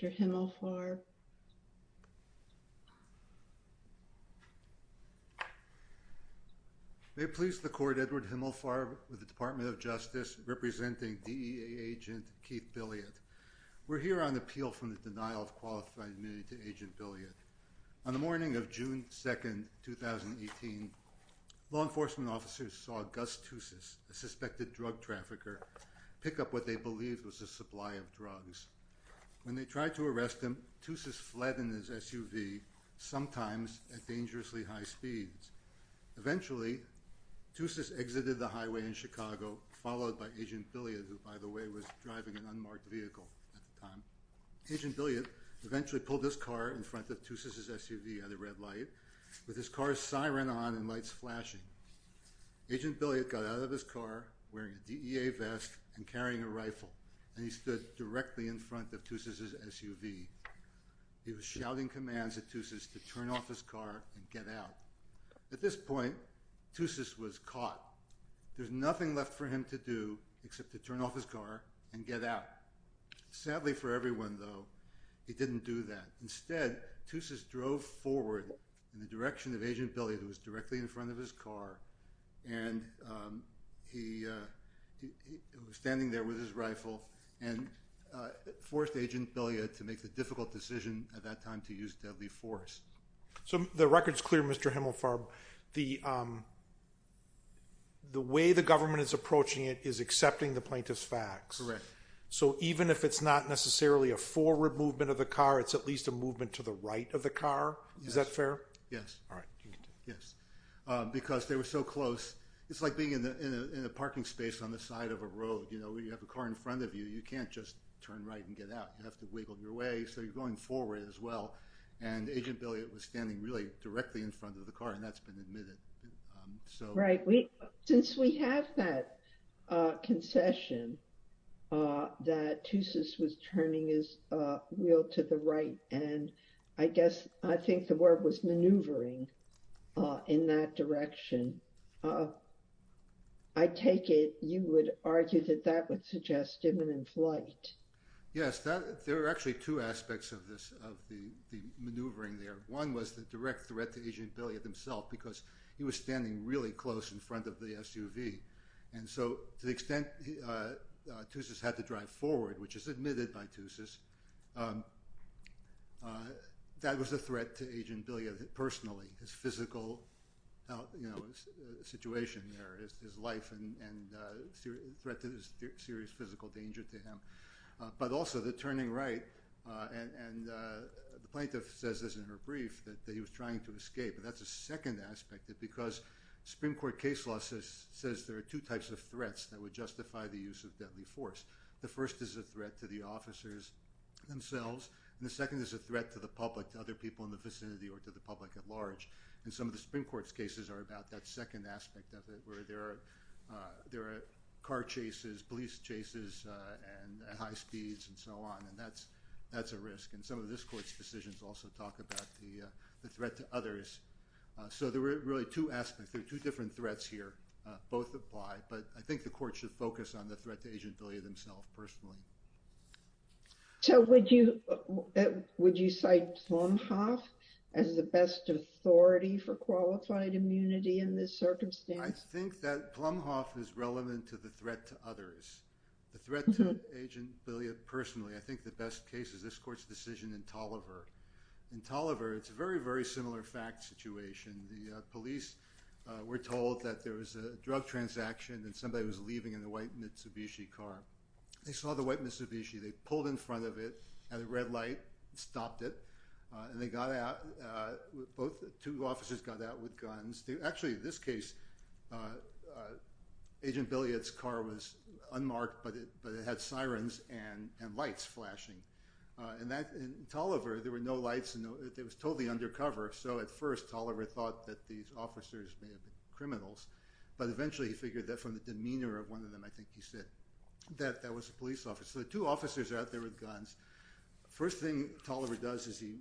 Mr. Himmelfarb. May it please the court, Edward Himmelfarb with the Department of Justice representing DEA agent Keith Billiot. We're here on appeal from the denial of qualified immunity to agent Billiot. On the morning of June 2nd, 2018, law enforcement officers saw Gus Tousis, a suspected drug trafficker, pick up what they believed was a supply of drugs. When they tried to arrest him, Tousis fled in his SUV, sometimes at dangerously high speeds. Eventually, Tousis exited the agent Billiot, who by the way was driving an unmarked vehicle at the time. Agent Billiot eventually pulled his car in front of Tousis' SUV at a red light, with his car's siren on and lights flashing. Agent Billiot got out of his car wearing a DEA vest and carrying a rifle, and he stood directly in front of Tousis' SUV. He was shouting commands at Tousis to turn off his car and get out. At this point, Tousis was caught. There's nothing left for him to do except to turn off his car and get out. Sadly for everyone, though, he didn't do that. Instead, Tousis drove forward in the direction of agent Billiot, who was directly in front of his car, and he was standing there with his rifle and forced agent Billiot to make the difficult decision at that time to use deadly force. So the record's clear, Mr. Himmelfarb. The way the government is approaching it is accepting the plaintiff's facts. Correct. So even if it's not necessarily a forward movement of the car, it's at least a movement to the right of the car? Is that fair? Yes. All right. Yes, because they were so close. It's like being in a parking space on the side of a road, you know, where you have a car in front of you. You can't just turn right and get out. You have to wiggle your way, so you're going forward as well, and agent Billiot was standing really directly in front of the car, and that's been admitted. Right. Since we have that concession that Tousis was turning his wheel to the right, and I guess I think the word was maneuvering in that direction, I take it you would argue that that would suggest imminent flight. Yes, there are actually two aspects of this, of the maneuvering there. One was the direct threat to agent Billiot himself, because he was standing really close in front of the SUV, and so to the extent Tousis had to drive forward, which is admitted by Tousis, that was a threat to agent Billiot personally, his physical, you know, situation there, his life, and threat to his serious physical danger to him, but also the turning right, and the plaintiff says this in her brief, that he was trying to escape, and that's a second aspect of it, because Supreme Court case law says there are two types of threats that would justify the use of deadly force. The first is a threat to the officers themselves, and the second is a threat to the public, to other people in the vicinity, or to the public at large, and some of the Supreme Court's cases are about that second aspect of it, where there are car chases, police chases, and high speeds, and so on, and that's, that's a risk, and some of this court's decisions also talk about the threat to others, so there were really two aspects, there are two different threats here, both apply, but I think the court should focus on the threat to agent Billiot himself personally. So would you, would you cite Plumhoff as the best authority for qualified immunity in this circumstance? I think that Plumhoff is relevant to the threat to others. The threat to agent Billiot personally, I think the best case is this court's decision in Tolliver. In Tolliver, it's a very, very similar fact situation. The police were told that there was a drug transaction, and somebody was leaving in the white Mitsubishi car. They saw the white Mitsubishi, they pulled in front of it, had a red light, stopped it, and they got out, both two officers got out with guns. Actually, in this case, agent Billiot's car was unmarked, but it, but it had sirens and, and lights flashing, and that, in Tolliver, there were no lights, and it was totally undercover, so at first Tolliver thought that these officers may have been criminals, but eventually he figured that from the demeanor of one of them, I think he said, that that was a police officer. The two officers are out there with guns. First thing Tolliver does is he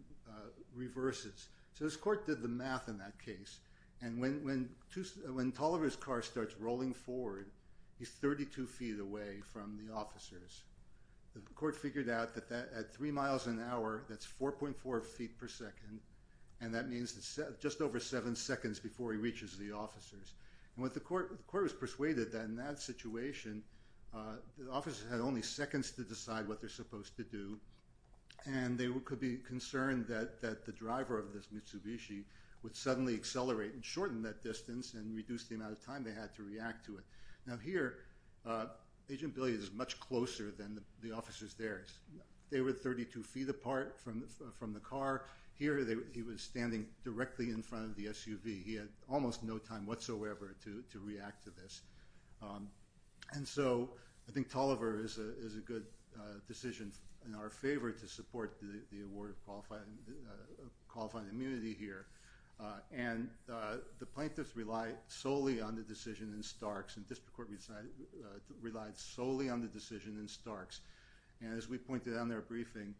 reverses, so his court did the math in that case, and when, when Tolliver's car starts rolling forward, he's 32 feet away from the officers. The court figured out that that, at three miles an hour, that's 4.4 feet per second, and that means it's just over seven seconds before he reaches the officers, and what the court, the court was persuaded that in that situation, the officers had only seconds to decide what they're supposed to do, and they could be concerned that, that the driver of this Mitsubishi would suddenly accelerate and shorten that distance and reduce the amount of time they had to react to it. Now here, Agent Billy is much closer than the officers there. They were 32 feet apart from, from the car. Here they, he was standing directly in front of the SUV. He had almost no time whatsoever to, to react to this, and so I think Tolliver is a, is a good decision in our favor to support the award of qualifying, qualifying immunity here, and the plaintiffs relied solely on the decision in Starks, and district court resigned, relied solely on the decision in Starks, and as we pointed out in their briefing,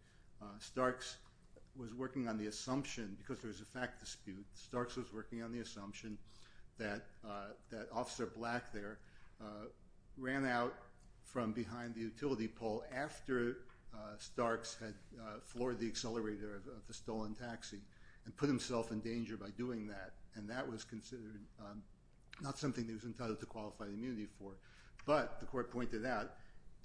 Starks was working on the assumption, because there was a fact dispute, Starks was working on the assumption that, that Officer Black there ran out from behind the utility pole after Starks had floored the accelerator of the stolen taxi, and put himself in danger by doing that, and that was considered not something he was entitled to qualify immunity for, but the court pointed out,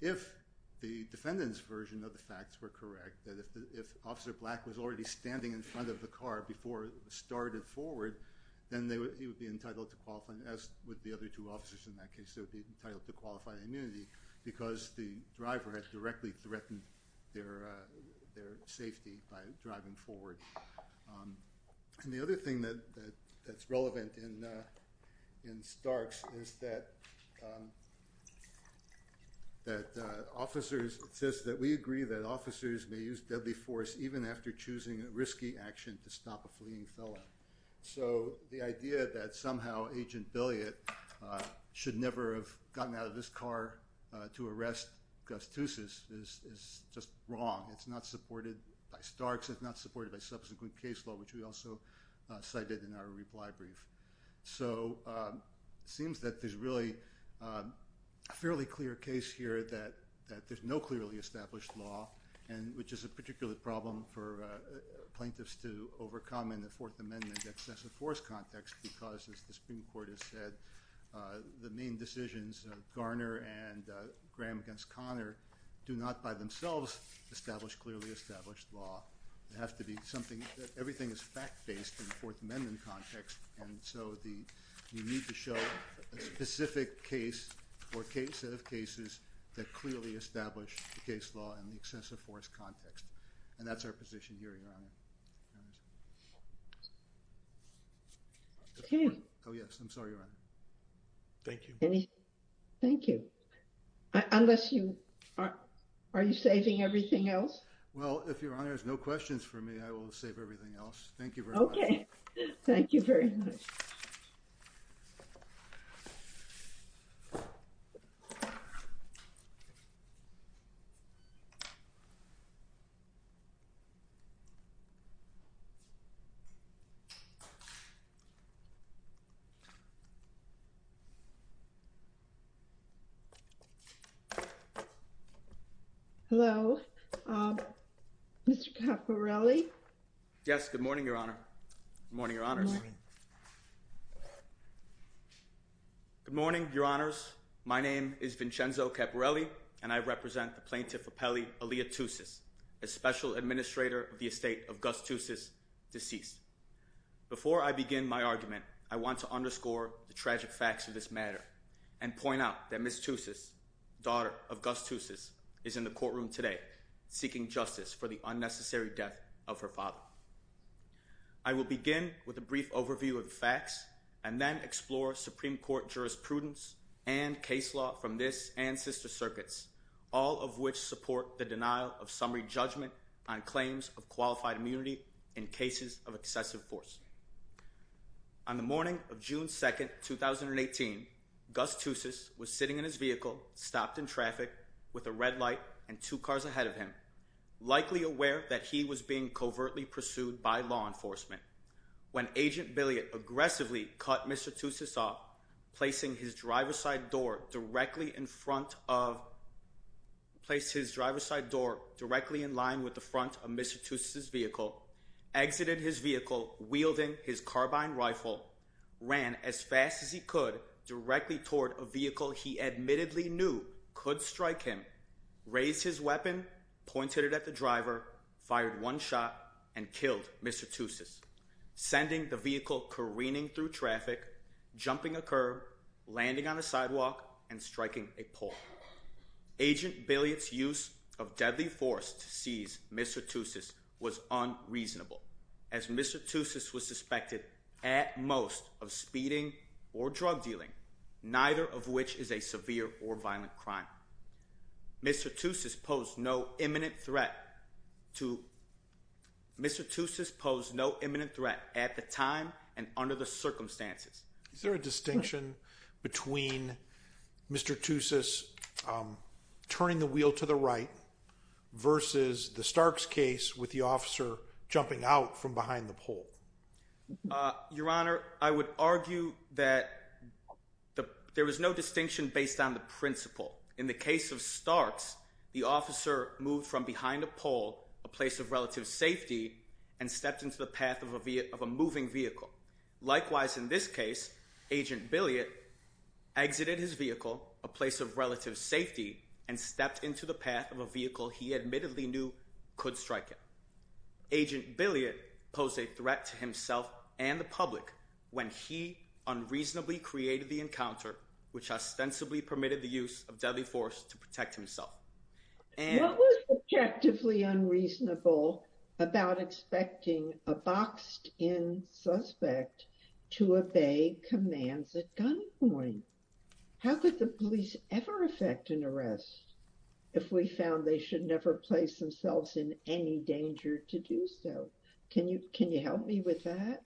if the defendant's version of the facts were correct, that if Officer Black was already standing in front of the car before it started forward, then they would, he would be entitled to qualifying, as would the other two officers in that case, they would be entitled to qualify immunity, because the driver had directly threatened their, their safety by driving forward, and the other thing that, that's relevant in, in Starks is that, that officers, it says that we agree that officers may use deadly force even after choosing a vehicle, should never have gotten out of this car to arrest Gustus, is, is just wrong, it's not supported by Starks, it's not supported by subsequent case law, which we also cited in our reply brief, so it seems that there's really a fairly clear case here that, that there's no clearly established law, and which is a particular problem for plaintiffs to overcome in the Fourth Amendment excessive force context, because as the Supreme Court has said, the main decisions of Garner and Graham against Connor do not by themselves establish clearly established law, it has to be something that everything is fact-based in the Fourth Amendment context, and so the, you need to show a specific case or case, set of cases that clearly establish the case law in the excessive force context, and that's our position here, Your Honor. Okay. Oh yes, I'm sorry, Your Honor. Thank you. Thank you. Unless you, are you saving everything else? Well, if Your Honor has no questions for me, I will save everything else. Thank you very much. Okay. Thank you very much. Hello, Mr. Caporelli? Yes, good morning, Your Honor, good morning, Your Honors. Good morning. Good morning, Your Honors. My name is Vincenzo Caporelli and I represent the plaintiff Rapelli-Aleatus, a special administrator of the estate of Gus Tussis, deceased. Before I begin my argument, I want to underscore the tragic facts of this matter and point out that Ms. Tussis, daughter of Gus Tussis, is in the courtroom today seeking justice for the unnecessary death of her father. I will begin with a brief overview of the facts and then explore Supreme Court jurisprudence and case law from this and sister circuits, all of which support the denial of summary judgment on claims of qualified immunity in cases of excessive force. On the morning of June 2nd, 2018, Gus Tussis was sitting in his vehicle, stopped in traffic with a red light and two cars ahead of him, likely aware that he was being covertly pursued by law enforcement. When Agent Billiott aggressively cut Mr. Tussis off, placing his driver's side door directly in line with the front of Mr. Tussis' vehicle, exited his vehicle wielding his carbine rifle, ran as fast as he could directly toward a vehicle he admittedly knew could strike him, raised his weapon, pointed it at the driver, fired one shot and killed Mr. Tussis, sending the vehicle careening through traffic, jumping a curb, landing on a sidewalk and striking a pole. Agent Billiott's use of deadly force to seize Mr. Tussis was unreasonable, as Mr. Tussis was suspected at most of speeding or drug dealing, neither of which is a severe or violent crime. Mr. Tussis posed no imminent threat at the time and under the circumstances. Is there a distinction between Mr. Tussis turning the wheel to the right versus the Starks case with the officer jumping out from behind the pole? Your Honor, I would argue that there is no distinction based on the principle. In the case of Starks, the officer moved from behind a pole, a place of relative safety, and stepped into the path of a moving vehicle. Likewise, in this case, Agent Billiott exited his vehicle, a place of relative safety, and stepped into the path of a vehicle he admittedly knew could strike him. Agent Billiott posed a threat to himself and the public when he unreasonably created the encounter which ostensibly permitted the use of deadly force to protect himself. What was objectively unreasonable about expecting a boxed-in suspect to obey commands at gunpoint? How could the police ever affect an arrest if we found they should never place themselves in any danger to do so? Can you help me with that?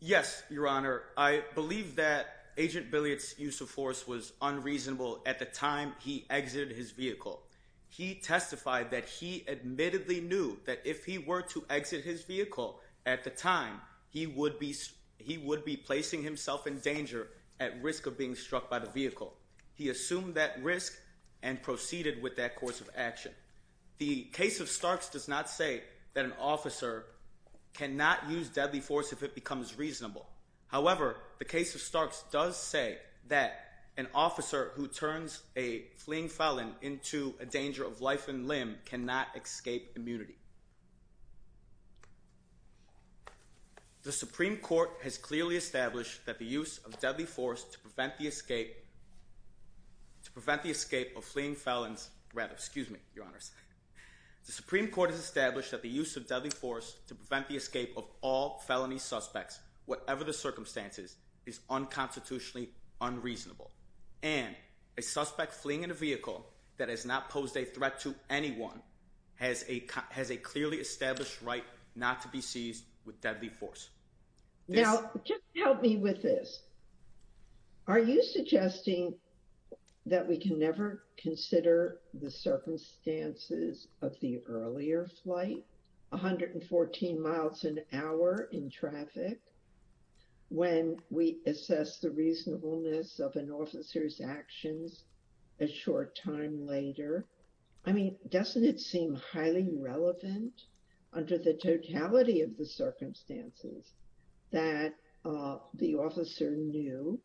Yes, Your Honor. I believe that Agent Billiott's use of force was unreasonable at the time he exited his vehicle. He testified that he admittedly knew that if he were to exit his vehicle at the time, he would be placing himself in danger at risk of being struck by the vehicle. He assumed that risk and proceeded with that course of action. The case of Starks does not say that an officer cannot use deadly force if it becomes reasonable. However, the case of Starks does say that an officer who turns a fleeing felon into a danger of life and limb cannot escape immunity. The Supreme Court has clearly established that the use of deadly force to prevent the escape of fleeing felons, rather, excuse me, Your Honors. The Supreme Court has established that the use of deadly force to prevent the escape of all felony suspects, whatever the circumstances, is unconstitutionally unreasonable. And a suspect fleeing in a vehicle that has not posed a threat to anyone has a clearly established right not to be seized with deadly force. Now, just help me with this. Are you suggesting that we can never consider the circumstances of the earlier flight, 114 miles an hour in traffic, when we assess the reasonableness of an officer's actions a short time later? I mean, doesn't it seem highly relevant under the totality of the circumstances that the officer knew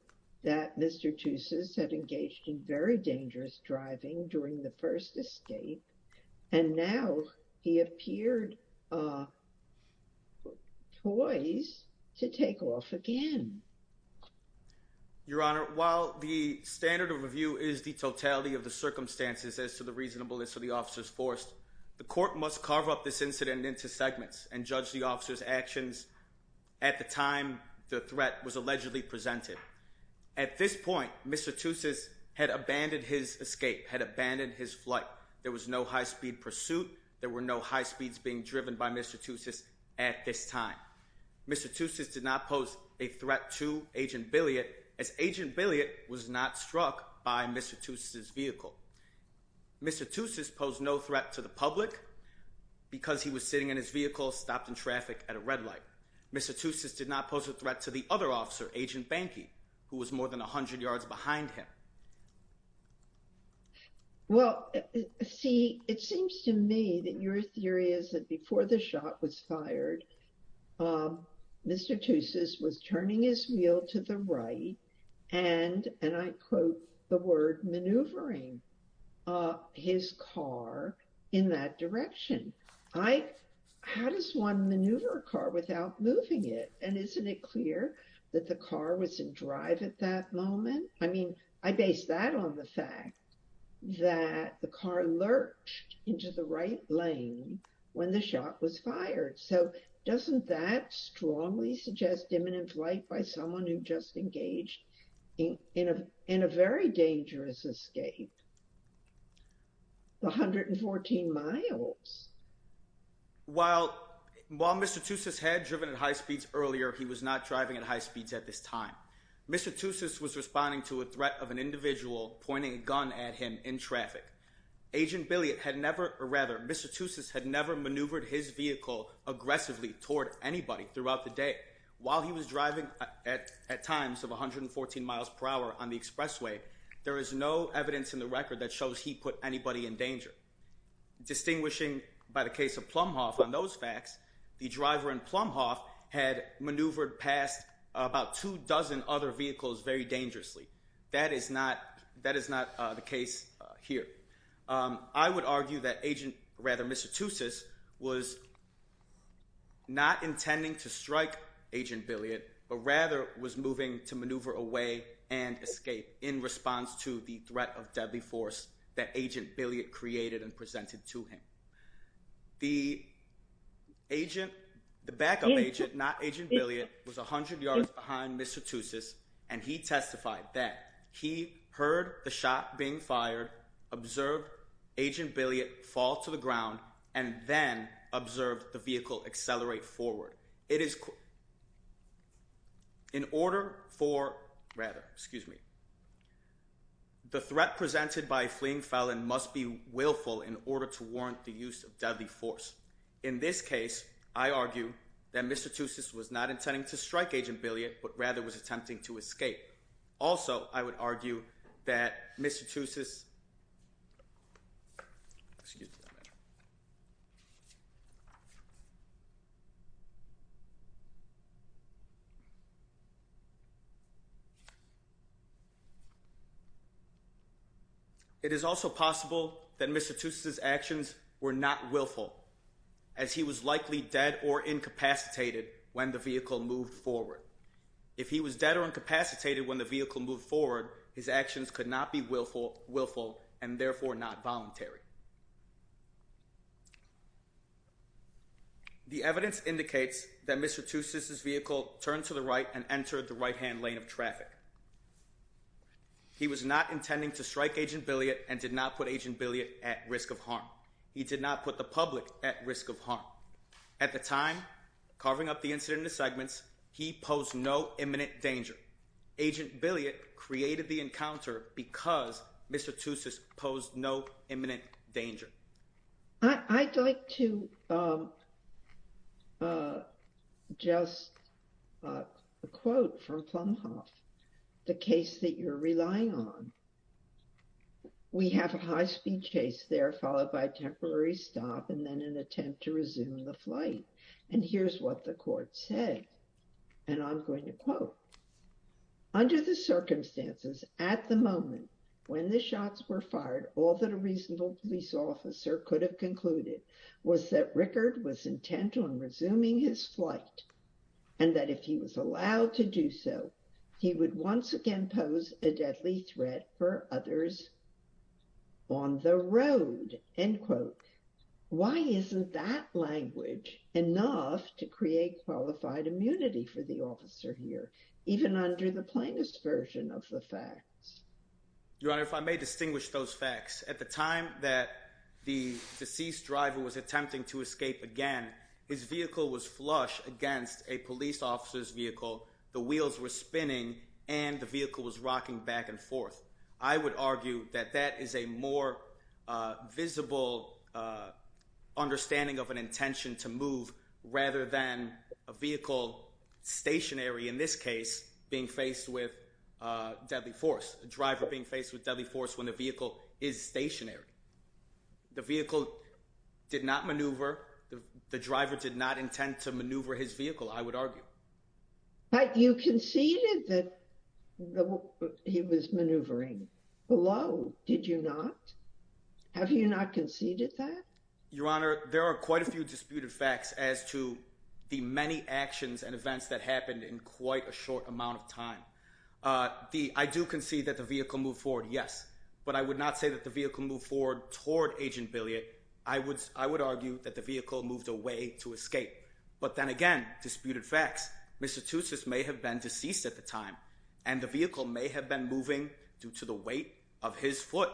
that Mr. Teuces had engaged in very dangerous driving during the first escape and now he appeared twice to take off again? Your Honor, while the standard of review is the totality of the circumstances as to the reasonableness of the officer's force, the court must carve up this incident into segments and judge the officer's actions at the time the threat was allegedly presented. At this point, Mr. Teuces had abandoned his escape, had abandoned his flight. There was no high speed pursuit. There were no high speeds being driven by Mr. Teuces at this time. Mr. Teuces did not pose a threat to Agent Billiott as Agent Billiott was not struck by Mr. Teuces' vehicle. Mr. Teuces posed no threat to the public because he was sitting in his vehicle, stopped in traffic at a red light. Mr. Teuces did not pose a threat to the other officer, Agent Bankey, who was more than 100 yards behind him. Well, see, it seems to me that your theory is that before the shot was fired, Mr. Teuces was turning his wheel to the right and, and I quote, the word maneuvering his car in that direction. I, how does one maneuver a car without moving it? And isn't it clear that the car was in drive at that moment? I mean, I base that on the fact that the car lurched into the right lane when the shot was fired. So doesn't that strongly suggest imminent flight by someone who just engaged in a, in a very dangerous escape, the 114 miles? While, while Mr. Teuces had driven at high speeds earlier, he was not driving at high speeds at this time. Mr. Teuces was responding to a threat of an individual pointing a gun at him in traffic. Agent Billiott had never, or rather, Mr. Teuces had never maneuvered his vehicle aggressively toward anybody throughout the day. While he was driving at times of 114 miles per hour on the expressway, there is no evidence in the record that shows he put anybody in danger. Distinguishing by the case of Plumhoff on those facts, the driver in Plumhoff had maneuvered past about two dozen other vehicles very dangerously. That is not, that is not the case here. I would argue that Agent, rather Mr. Teuces was not intending to strike Agent Billiott, but rather was moving to maneuver away and escape in response to the threat of deadly force that Agent Billiott created and presented to him. The agent, the backup agent, not Agent Billiott, was 100 yards behind Mr. Teuces, and he testified that. He heard the shot being fired, observed Agent Billiott fall to the ground, and then observed the vehicle accelerate forward. It is, in order for, rather, excuse me. The threat presented by a fleeing felon must be willful in order to warrant the use of deadly force. In this case, I argue that Mr. Teuces was not intending to strike Agent Billiott, but rather was attempting to escape. Also, I would argue that Mr. Teuces, excuse me. It is also possible that Mr. Teuces' actions were not willful, as he was likely dead or incapacitated when the vehicle moved forward. If he was dead or incapacitated when the vehicle moved forward, his actions could not be willful, and therefore not voluntary. The evidence indicates that Mr. Teuces' vehicle turned to the right and entered the right-hand lane of traffic. He was not intending to strike Agent Billiott and did not put Agent Billiott at risk of harm. He did not put the public at risk of harm. At the time, carving up the incident into segments, he posed no imminent danger. Agent Billiott created the encounter because Mr. Teuces posed no imminent danger. I'd like to just quote from Plumhoff the case that you're relying on. We have a high-speed chase there, followed by a temporary stop, and then an attempt to resume the flight. And here's what the court said, and I'm going to quote. Under the circumstances, at the moment, when the shots were fired, all that a reasonable police officer could have concluded was that Rickard was intent on resuming his flight, and that if he was allowed to do so, he would once again pose a deadly threat for others on the road. Why isn't that language enough to create qualified immunity for the officer here, even under the plainest version of the facts? Your Honor, if I may distinguish those facts, at the time that the deceased driver was attempting to escape again, his vehicle was flush against a police officer's vehicle, the wheels were spinning, and the vehicle was rocking back and forth. I would argue that that is a more visible understanding of an intention to move rather than a vehicle stationary, in this case, being faced with deadly force, a driver being faced with deadly force when the vehicle is stationary. The vehicle did not maneuver. The driver did not intend to maneuver his vehicle, I would argue. But you conceded that he was maneuvering below, did you not? Have you not conceded that? Your Honor, there are quite a few disputed facts as to the many actions and events that happened in quite a short amount of time. I do concede that the vehicle moved forward, yes, but I would not say that the vehicle moved forward toward Agent Billiott. I would argue that the vehicle moved away to escape. But then again, disputed facts. Mr. Tutsis may have been deceased at the time, and the vehicle may have been moving due to the weight of his foot,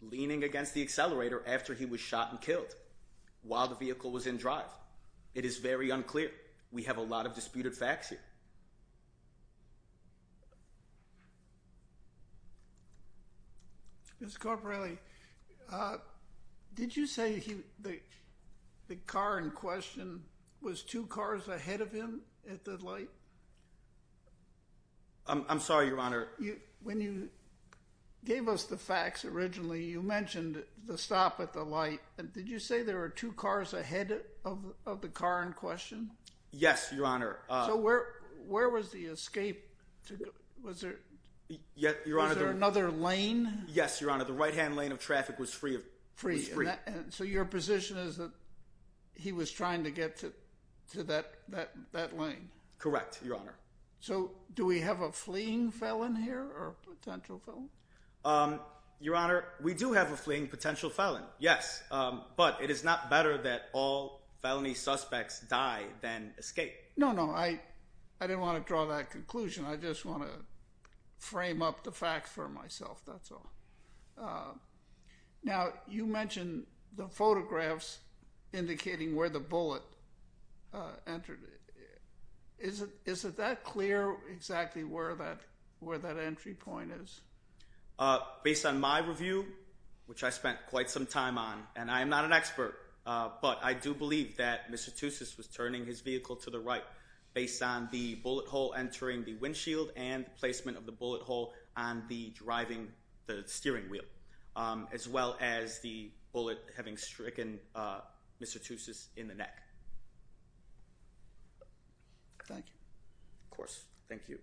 leaning against the accelerator after he was shot and killed, while the vehicle was in drive. It is very unclear. We have a lot of disputed facts here. Mr. Corporelli, did you say the car in question was two cars ahead of him at the light? I'm sorry, Your Honor. When you gave us the facts originally, you mentioned the stop at the light. Did you say there were two cars ahead of the car in question? Yes, Your Honor. So where was the escape? Was there another lane? Yes, Your Honor. The right-hand lane of traffic was free. So your position is that he was trying to get to that lane? Correct, Your Honor. So do we have a fleeing felon here or a potential felon? Your Honor, we do have a fleeing potential felon, yes, but it is not better that all felony suspects die than escape. No, no. I didn't want to draw that conclusion. I just want to frame up the facts for myself, that's all. Now, you mentioned the photographs indicating where the bullet entered. Is it that clear exactly where that entry point is? Based on my review, which I spent quite some time on, and I am not an expert, but I do believe that Mr. Tussis was turning his vehicle to the right based on the bullet hole entering the windshield and the placement of the bullet hole on the steering wheel, as well as the bullet having stricken Mr. Tussis in the neck. Thank you. Of course. Thank you.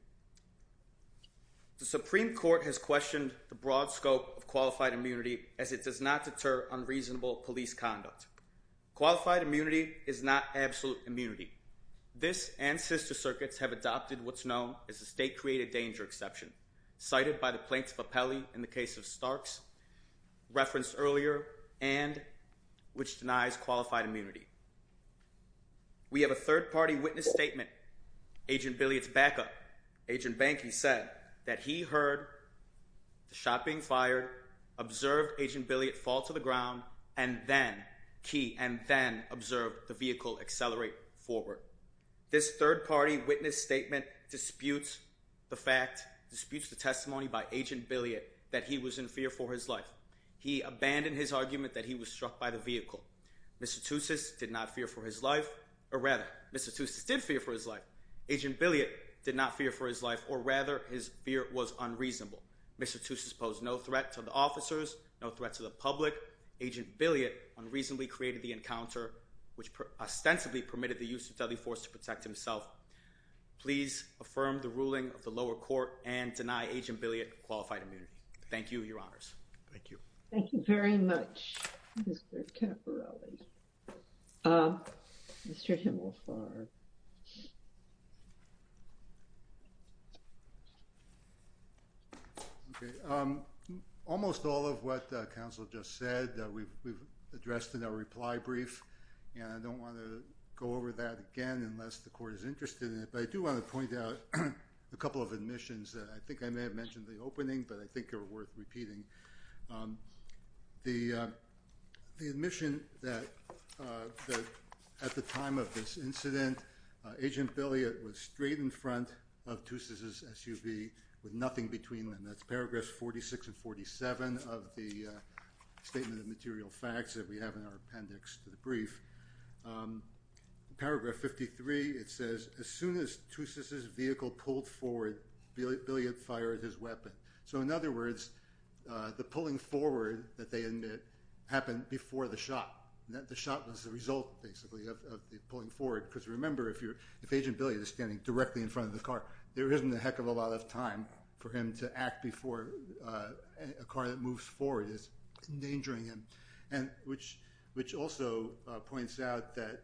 The Supreme Court has questioned the broad scope of qualified immunity as it does not deter unreasonable police conduct. Qualified immunity is not absolute immunity. This and sister circuits have adopted what's known as a state-created danger exception, cited by the Plaintiff Appellee in the case of Starks, referenced earlier, and which denies qualified immunity. We have a third-party witness statement. Agent Billiott's backup, Agent Bankey, said that he heard the shot being fired, observed Agent Billiott fall to the ground, and then, key, and then observed the vehicle accelerate forward. This third-party witness statement disputes the fact, disputes the testimony by Agent Billiott that he was in fear for his life. He abandoned his argument that he was struck by the vehicle. Mr. Tussis did not fear for his life, or rather, Mr. Tussis did fear for his life. Agent Billiott did not fear for his life, or rather, his fear was unreasonable. Mr. Tussis posed no threat to the officers, no threat to the public. Agent Billiott unreasonably created the encounter, which ostensibly permitted the use of deadly force to protect himself. Please affirm the ruling of the lower court and deny Agent Billiott qualified immunity. Thank you, Your Honors. Thank you. Thank you very much, Mr. Caporelli. Mr. Himmelfarb. Okay. Almost all of what counsel just said we've addressed in our reply brief, and I don't want to go over that again unless the court is interested in it, but I do want to point out a couple of admissions that I think I may have mentioned in the opening, but I think are worth repeating. The admission that at the time of this incident, Agent Billiott was straight in front of Tussis' SUV with nothing between them. That's paragraphs 46 and 47 of the statement of material facts that we have in our appendix to the brief. Paragraph 53, it says, As soon as Tussis' vehicle pulled forward, Billiott fired his weapon. So in other words, the pulling forward that they admit happened before the shot. The shot was the result, basically, of the pulling forward, because remember, if Agent Billiott is standing directly in front of the car, there isn't a heck of a lot of time for him to act before a car that moves forward is endangering him, which also points out that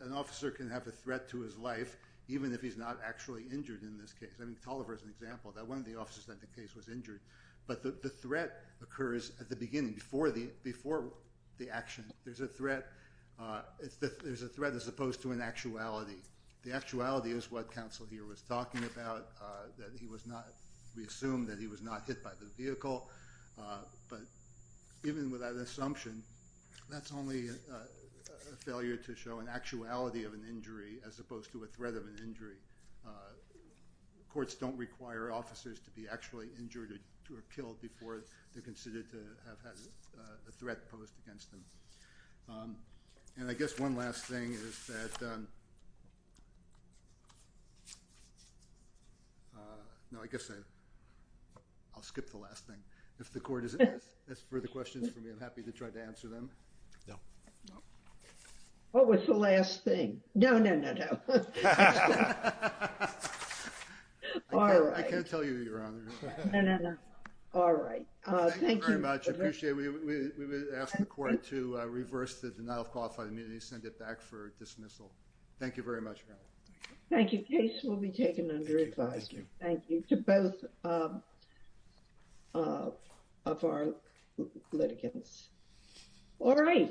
an officer can have a threat to his life, even if he's not actually injured in this case. I mean, Toliver is an example. One of the officers in that case was injured, but the threat occurs at the beginning, before the action. There's a threat as opposed to an actuality. The actuality is what counsel here was talking about, that we assume that he was not hit by the vehicle, but even with that assumption, that's only a failure to show an actuality of an injury as opposed to a threat of an injury. Courts don't require officers to be actually injured or killed before they're considered to have had a threat posed against them. And I guess one last thing is that... No, I guess I'll skip the last thing. If the court has further questions for me, I'm happy to try to answer them. No. What was the last thing? No, no, no, no. All right. I can't tell you, Your Honor. No, no, no. All right. Thank you very much. I appreciate it. We would ask the court to reverse the denial of qualified immunity, send it back for dismissal. Thank you very much, Your Honor. Thank you. Thank you. Case will be taken under advisory. Thank you. Thank you to both of our litigants. All right.